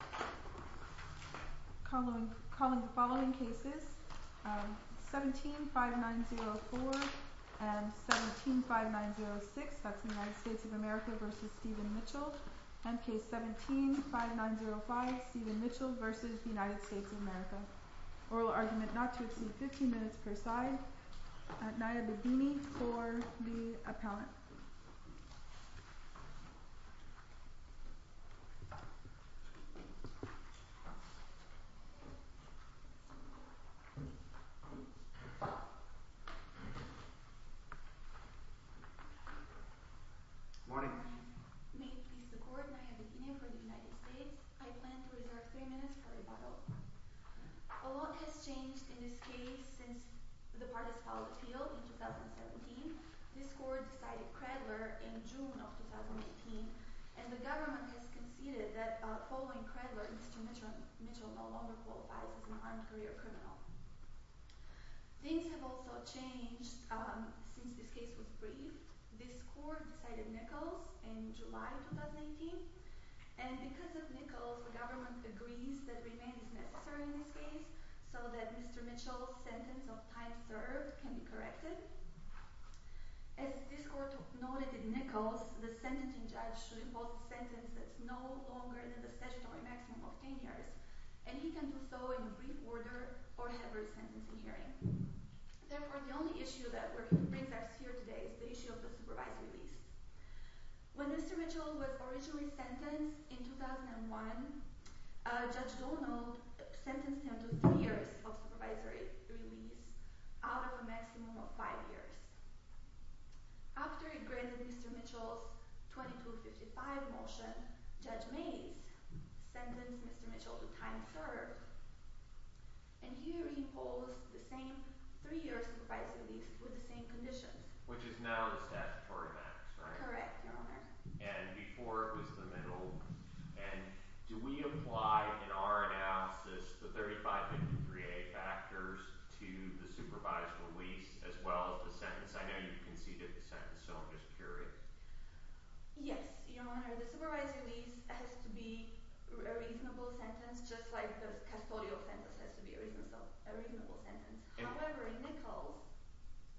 of America. Oral argument not to exceed 15 minutes per side. Naya Babini for the appellant. Good morning. May it please the Court, Naya Babini for the United States. I plan to reserve three minutes for rebuttal. A lot has changed in this case since the parties filed the appeal in 2017. This Court decided Cradler in June of 2018. And the government has conceded that following Cradler, Mr. Mitchell no longer qualifies as an armed career criminal. Things have also changed since this case was briefed. This Court decided Nichols in July 2018. And because of Nichols, the government agrees that remand is necessary in this case so that Mr. Mitchell's sentence of time served can be corrected. As this Court noted in Nichols, the sentencing judge should impose a sentence that is no longer than the statutory maximum of 10 years. And he can do so in brief order or have a resentencing hearing. Therefore, the only issue that brings us here today is the issue of the supervisory release. When Mr. Mitchell was originally sentenced in 2001, Judge Donald sentenced him to three years of supervisory release out of a maximum of five years. After he granted Mr. Mitchell's 2255 motion, Judge Mays sentenced Mr. Mitchell to time served. And here he imposed the same three years of supervisory release with the same conditions. Which is now the statutory max, right? Correct, Your Honor. And before it was the minimum. And do we apply in our analysis the 3553A factors to the supervised release as well as the sentence? I know you conceded the sentence, so I'm just curious. Yes, Your Honor. The supervised release has to be a reasonable sentence, just like the custodial sentence has to be a reasonable sentence. However, in Nichols…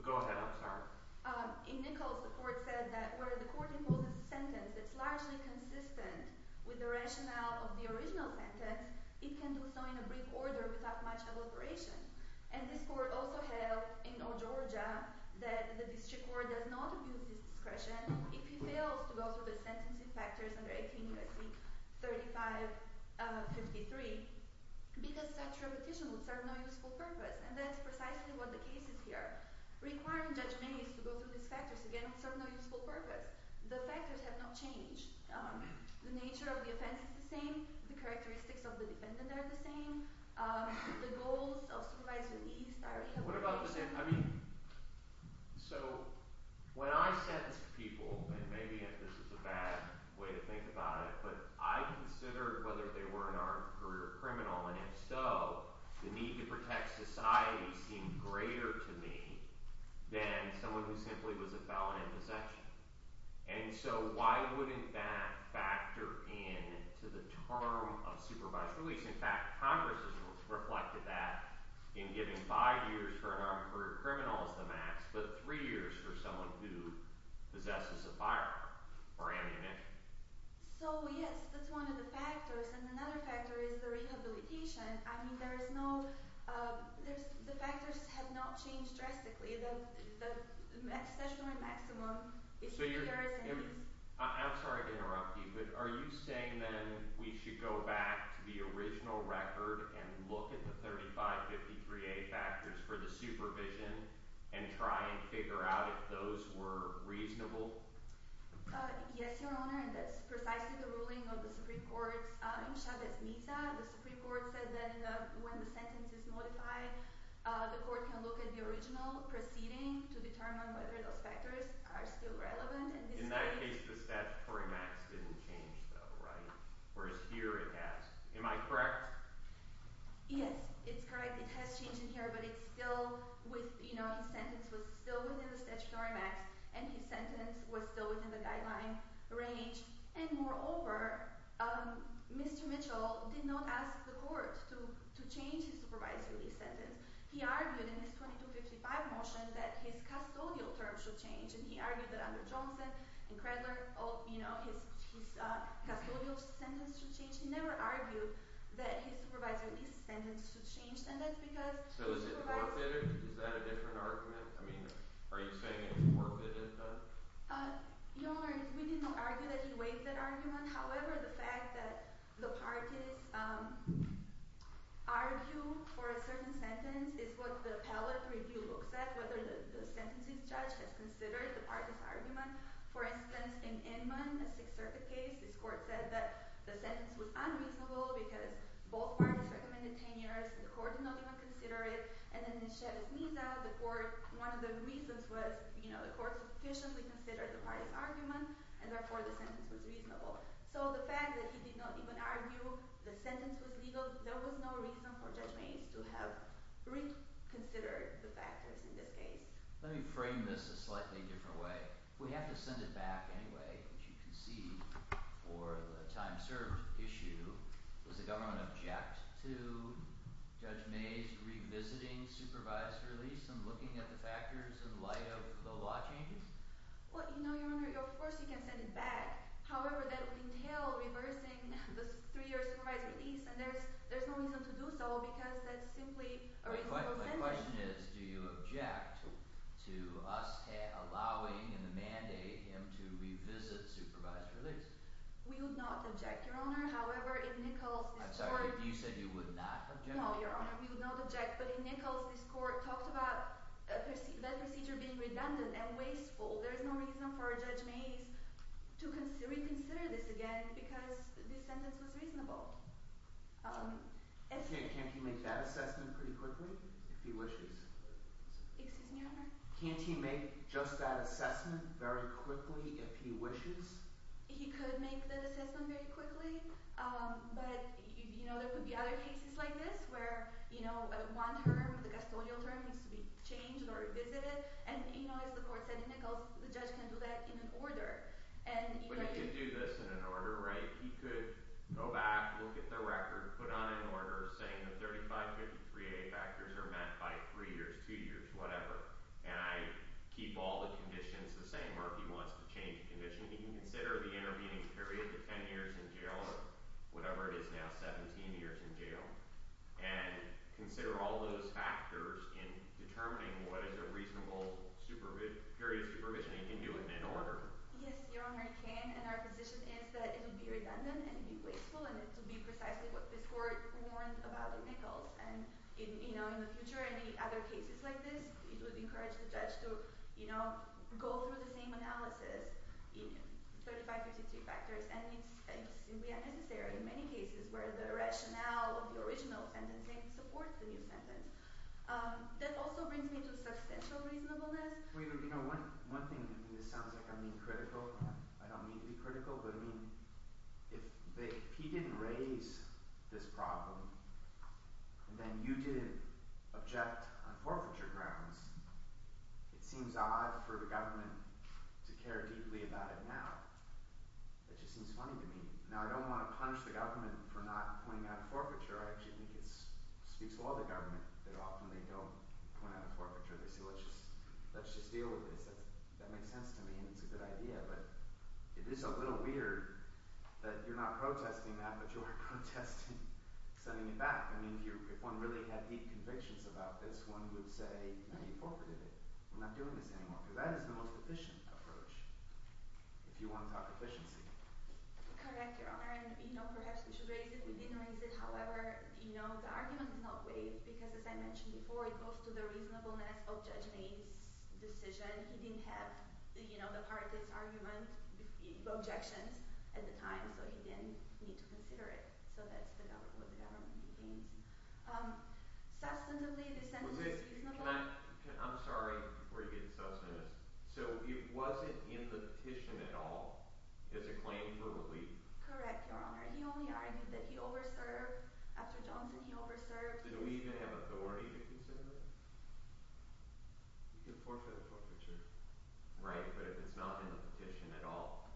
Go ahead, I'm sorry. In Nichols, the court said that where the court imposes a sentence that's largely consistent with the rationale of the original sentence, it can do so in a brief order without much elaboration. And this court also held in Old Georgia that the district court does not abuse its discretion if he fails to go through the sentencing factors under 18 U.S.C. 3553 because such repetition would serve no useful purpose. And that's precisely what the case is here. Requiring Judge Mays to go through these factors again would serve no useful purpose. The factors have not changed. The nature of the offense is the same. The characteristics of the defendant are the same. The goals of supervised release are the same. What about the same – I mean, so when I sentence people, and maybe this is a bad way to think about it, but I considered whether they were an armed career criminal, and if so, the need to protect society seemed greater to me than someone who simply was a felon in possession. And so why wouldn't that factor in to the term of supervised release? In fact, Congress has reflected that in giving five years for an armed career criminal as the max, but three years for someone who possesses a firearm or ammunition. So, yes, that's one of the factors. And another factor is the rehabilitation. I mean, there is no – the factors have not changed drastically. The statutory maximum is here. So you're – I'm sorry to interrupt you, but are you saying then we should go back to the original record and look at the 3553A factors for the supervision and try and figure out if those were reasonable? Yes, Your Honor, and that's precisely the ruling of the Supreme Court in Chavez-Miza. The Supreme Court said that when the sentence is modified, the court can look at the original proceeding to determine whether those factors are still relevant. In that case, the statutory max didn't change, though, right? Whereas here it has. Am I correct? Yes, it's correct. It has changed in here, but it's still with – you know, his sentence was still within the statutory max and his sentence was still within the guideline range. And moreover, Mr. Mitchell did not ask the court to change his supervisory lease sentence. He argued in his 2255 motion that his custodial term should change, and he argued that under Johnson and Cradler, you know, his custodial sentence should change. He never argued that his supervisory lease sentence should change. So is it considered – is that a different argument? I mean, are you saying it's more fitted? Your Honor, we did not argue that he waived that argument. However, the fact that the parties argue for a certain sentence is what the appellate review looks at, whether the sentences judge has considered the parties' argument. For instance, in Inman, a Sixth Circuit case, this court said that the sentence was unreasonable because both parties recommended 10 years, and the court did not even consider it. And then in Chavez-Miza, the court – one of the reasons was, you know, the court sufficiently considered the parties' argument, and therefore the sentence was reasonable. So the fact that he did not even argue the sentence was legal, there was no reason for Judge Mays to have reconsidered the factors in this case. Let me frame this a slightly different way. If we have to send it back anyway, which you can see for the time served issue, does the government object to Judge Mays revisiting supervisory lease and looking at the factors in light of the law changes? Well, you know, Your Honor, of course you can send it back. However, that would entail reversing the three-year supervisory lease, and there's no reason to do so because that's simply a reasonable sentence. The question is, do you object to us allowing in the mandate him to revisit supervisory lease? We would not object, Your Honor. However, in Nichols, this court – I'm sorry, you said you would not object? No, Your Honor, we would not object. But in Nichols, this court talked about that procedure being redundant and wasteful. There is no reason for Judge Mays to reconsider this again because this sentence was reasonable. Can't he make that assessment pretty quickly if he wishes? Excuse me, Your Honor? Can't he make just that assessment very quickly if he wishes? He could make that assessment very quickly, but, you know, there could be other cases like this where, you know, one term, the custodial term, needs to be changed or revisited. And, you know, as the court said in Nichols, the judge can do that in an order. But he could do this in an order, right? He could go back, look at the record, put on an order saying the 3553A factors are met by 3 years, 2 years, whatever, and I keep all the conditions the same or if he wants to change a condition, he can consider the intervening period to 10 years in jail or whatever it is now, 17 years in jail, and consider all those factors in determining what is a reasonable period of supervision. He can do it in an order. Yes, Your Honor, he can, and our position is that it would be redundant and it would be wasteful and it would be precisely what this court warned about in Nichols. And, you know, in the future, any other cases like this, it would encourage the judge to, you know, go through the same analysis, 3553 factors, and it's simply unnecessary in many cases where the rationale of the original sentencing supports the new sentence. That also brings me to substantial reasonableness. You know, one thing, and this sounds like I'm being critical. I don't mean to be critical, but I mean if he didn't raise this problem, then you didn't object on forfeiture grounds. It seems odd for the government to care deeply about it now. It just seems funny to me. Now, I don't want to punish the government for not pointing out a forfeiture. I actually think it speaks well of the government that often they don't point out a forfeiture. They say, let's just deal with this. That makes sense to me and it's a good idea, but it is a little weird that you're not protesting that, but you are protesting sending it back. I mean, if one really had deep convictions about this, one would say, now you forfeited it. We're not doing this anymore because that is the most efficient approach, if you want to talk efficiency. Correct, Your Honor, and, you know, perhaps we should raise it. We didn't raise it. However, you know, the argument is not waived because, as I mentioned before, it goes to the reasonableness of Judge May's decision. He didn't have, you know, the parties' argument, objections at the time, so he didn't need to consider it. So that's what the government deems. Substantively, the sentence is reasonable. I'm sorry, before you get substantive. So it wasn't in the petition at all as a claim for relief? Correct, Your Honor. He only argued that he over-served. After Johnson, he over-served. Didn't we even have authority to consider that? You can forfeit a forfeiture. Right, but if it's not in the petition at all.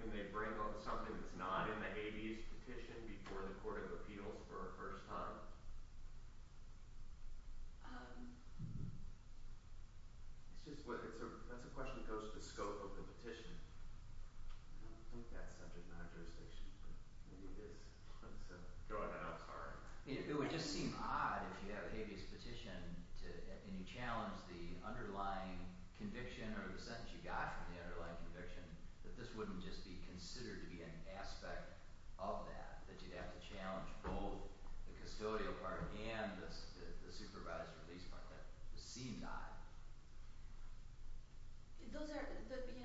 Can they bring up something that's not in the Hades petition before the court of appeals for a first time? That's a question that goes to the scope of the petition. I don't think that's subject matter jurisdiction, but maybe it is. Go ahead, I'm sorry. It would just seem odd if you have Hades' petition and you challenge the underlying conviction or the sentence you got from the underlying conviction that this wouldn't just be considered to be an aspect of that, that you'd have to challenge both the custodial part and the supervised release part. That would seem odd.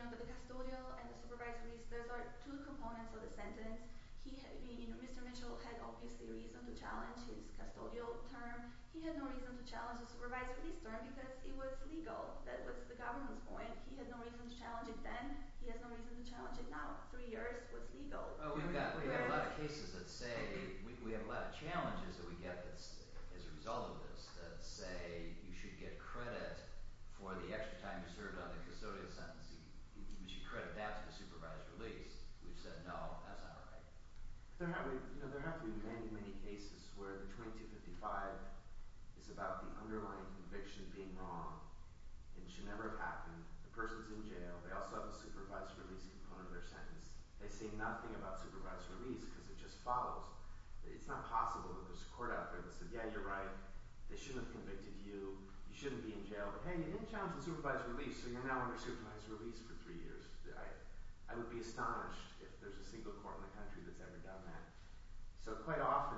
The custodial and the supervised release, those are two components of the sentence. Mr. Mitchell had obviously reason to challenge his custodial term. He had no reason to challenge the supervised release term because it was legal. That was the government's point. He had no reason to challenge it then. He has no reason to challenge it now. Three years was legal. We have a lot of cases that say, we have a lot of challenges that we get as a result of this that say you should get credit for the extra time you served on the custodial sentence. You should credit that to the supervised release. We've said, no, that's not right. There have been many, many cases where the 2255 is about the underlying conviction being wrong. It should never have happened. The person's in jail. They also have the supervised release component of their sentence. They say nothing about supervised release because it just follows. It's not possible that there's a court out there that says, yeah, you're right. They shouldn't have convicted you. You shouldn't be in jail. But hey, you didn't challenge the supervised release, so you're now under supervised release for three years. I would be astonished if there's a single court in the country that's ever done that. So quite often,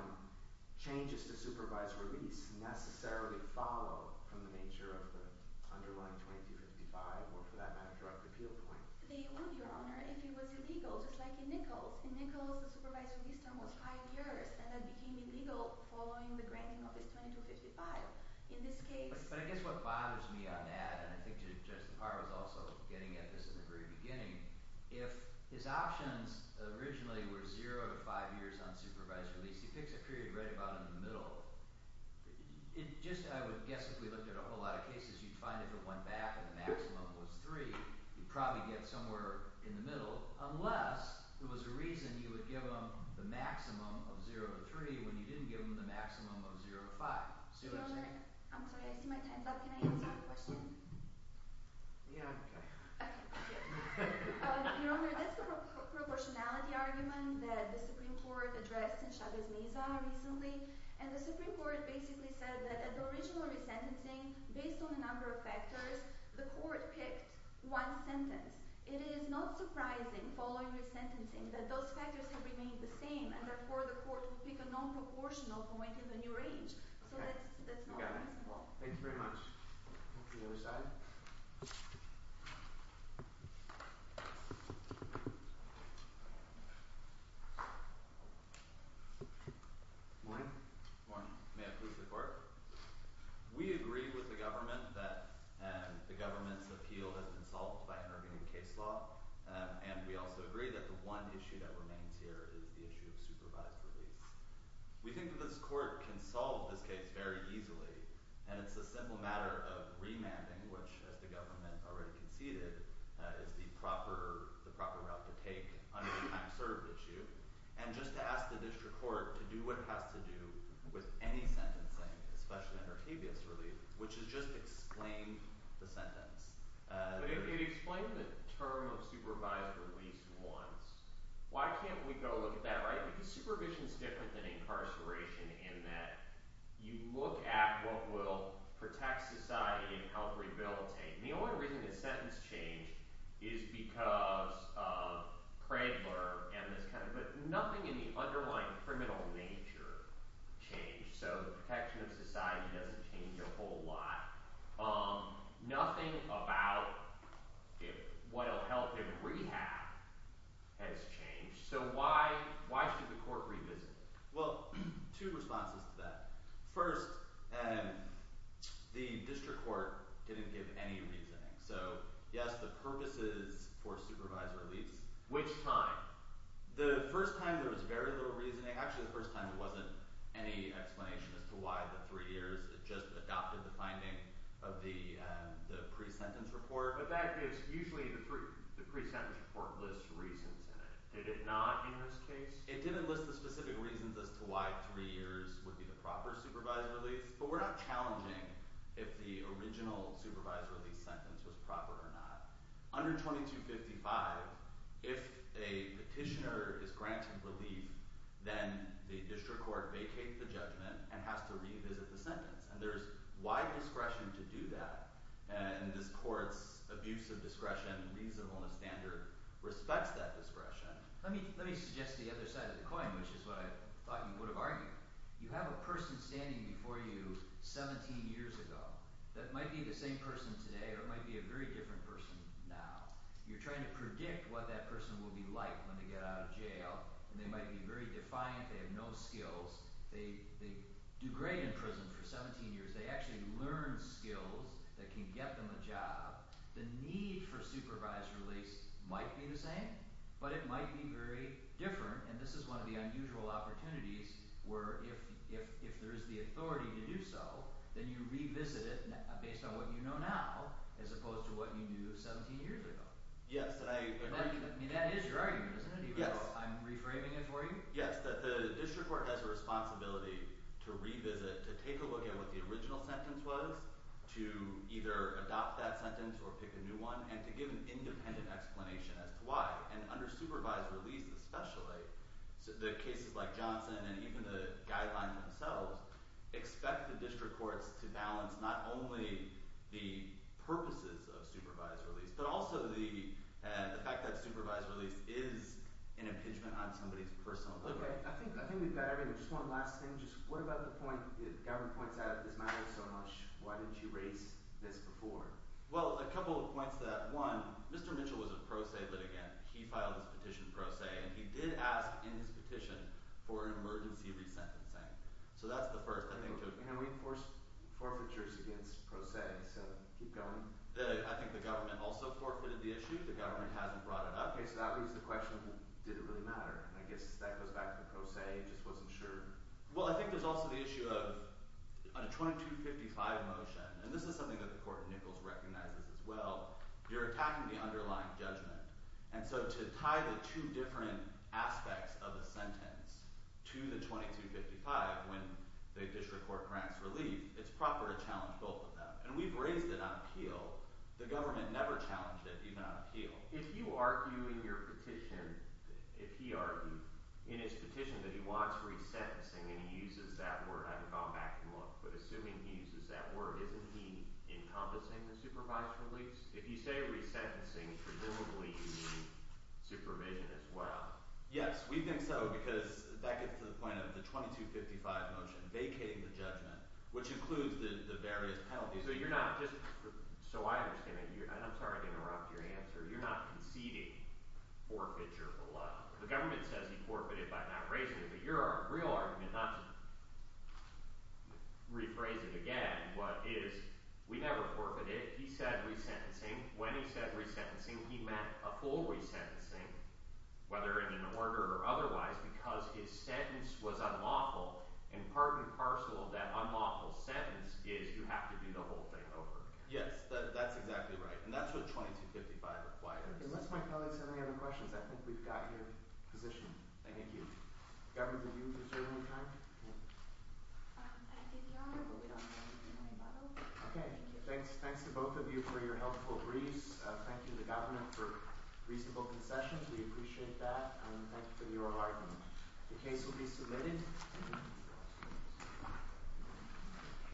changes to supervised release necessarily follow from the nature of the underlying 2255 or, for that matter, direct appeal point. They would, Your Honor, if it was illegal, just like in Nichols. In Nichols, the supervised release term was five years, and that became illegal following the granting of his 2255. In this case— But I guess what bothers me on that, and I think Judge DePauw was also getting at this in the very beginning, if his options originally were zero to five years on supervised release, he picks a period right about in the middle. It just – I would guess if we looked at a whole lot of cases, you'd find if it went back and the maximum was three, you'd probably get somewhere in the middle unless there was a reason you would give them the maximum of zero to three when you didn't give them the maximum of zero to five. See what I'm saying? Your Honor, I'm sorry. I see my time's up. Can I answer your question? Yeah, okay. Okay. Your Honor, that's the proportionality argument that the Supreme Court addressed in Chavez-Meza recently. And the Supreme Court basically said that at the original resentencing, based on a number of factors, the court picked one sentence. It is not surprising, following the sentencing, that those factors have remained the same, and therefore the court will pick a non-proportional point in the new range. Okay. So that's not reasonable. Okay. You got it. Well, thank you very much. The other side. Morning. Morning. May I speak to the court? We agree with the government that the government's appeal has been solved by intervening in case law, and we also agree that the one issue that remains here is the issue of supervised release. We think that this court can solve this case very easily, and it's a simple matter of remanding, which, as the government already conceded, is the proper route to take on a time-served issue, and just to ask the district court to do what it has to do with any sentencing, especially under habeas relief, which is just explain the sentence. But it explained the term of supervised release once. Why can't we go look at that, right? Because supervision is different than incarceration in that you look at what will protect society and help rehabilitate. And the only reason the sentence changed is because of Cradler and this kind of thing. But nothing in the underlying criminal nature changed, so the protection of society doesn't change a whole lot. Nothing about what will help in rehab has changed. So why should the court revisit it? Well, two responses to that. First, the district court didn't give any reasoning. So, yes, the purpose is for supervised release. Which time? The first time there was very little reasoning. Actually, the first time there wasn't any explanation as to why the three years. It just adopted the finding of the pre-sentence report. But that gives – usually the pre-sentence report lists reasons in it. Did it not in this case? It didn't list the specific reasons as to why three years would be the proper supervised release. But we're not challenging if the original supervised release sentence was proper or not. Under 2255, if a petitioner is granted relief, then the district court vacates the judgment and has to revisit the sentence. And there's wide discretion to do that. And this court's abuse of discretion, reasonable and standard, respects that discretion. Let me suggest the other side of the coin, which is what I thought you would have argued. You have a person standing before you 17 years ago that might be the same person today or might be a very different person now. You're trying to predict what that person will be like when they get out of jail. And they might be very defiant. They have no skills. They do great in prison for 17 years. They actually learn skills that can get them a job. The need for supervised release might be the same, but it might be very different. And this is one of the unusual opportunities where if there is the authority to do so, then you revisit it based on what you know now as opposed to what you knew 17 years ago. Yes, and I agree. That is your argument, isn't it, even though I'm reframing it for you? Yes, that the district court has a responsibility to revisit, to take a look at what the original sentence was, to either adopt that sentence or pick a new one, and to give an independent explanation as to why. And under supervised release especially, the cases like Johnson and even the guidelines themselves expect the district courts to balance not only the purposes of supervised release but also the fact that supervised release is an impingement on somebody's personal liberty. Okay. I think we've got everything. Just one last thing. What about the point that Gavin points out that this matters so much? Why didn't you raise this before? Well, a couple of points to that. One, Mr. Mitchell was a pro se litigant. He filed his petition pro se, and he did ask in his petition for an emergency resentencing. So that's the first. And I reinforced forfeitures against pro se, so keep going. I think the government also forfeited the issue. The government hasn't brought it up. Okay, so that raises the question, did it really matter? And I guess that goes back to the pro se. I just wasn't sure. Well, I think there's also the issue of a 2255 motion, and this is something that the court in Nichols recognizes as well. You're attacking the underlying judgment. And so to tie the two different aspects of the sentence to the 2255 when the district court grants relief, it's proper to challenge both of them. And we've raised it on appeal. The government never challenged it, even on appeal. If you argue in your petition, if he argued in his petition that he wants resentencing and he uses that word, I would go back and look. But assuming he uses that word, isn't he encompassing the supervised release? If you say resentencing, presumably you mean supervision as well. Yes, we think so because that gets to the point of the 2255 motion vacating the judgment, which includes the various penalties. So you're not just – so I understand that you're – and I'm sorry to interrupt your answer. You're not conceding forfeiture of the law. The government says he forfeited by not raising it, but your real argument, not to rephrase it again, but is we never forfeited. He said resentencing. When he said resentencing, he meant a full resentencing, whether in an order or otherwise, because his sentence was unlawful. And part and parcel of that unlawful sentence is you have to do the whole thing over again. Yes, that's exactly right, and that's what 2255 requires. Unless my colleagues have any other questions, I think we've got your position. Thank you. Governor, did you deserve any time? I did, Your Honor, but we don't have any time. Okay. Thanks to both of you for your helpful briefs. Thank you to the government for reasonable concessions. We appreciate that, and thank you for your argument. The case will be submitted.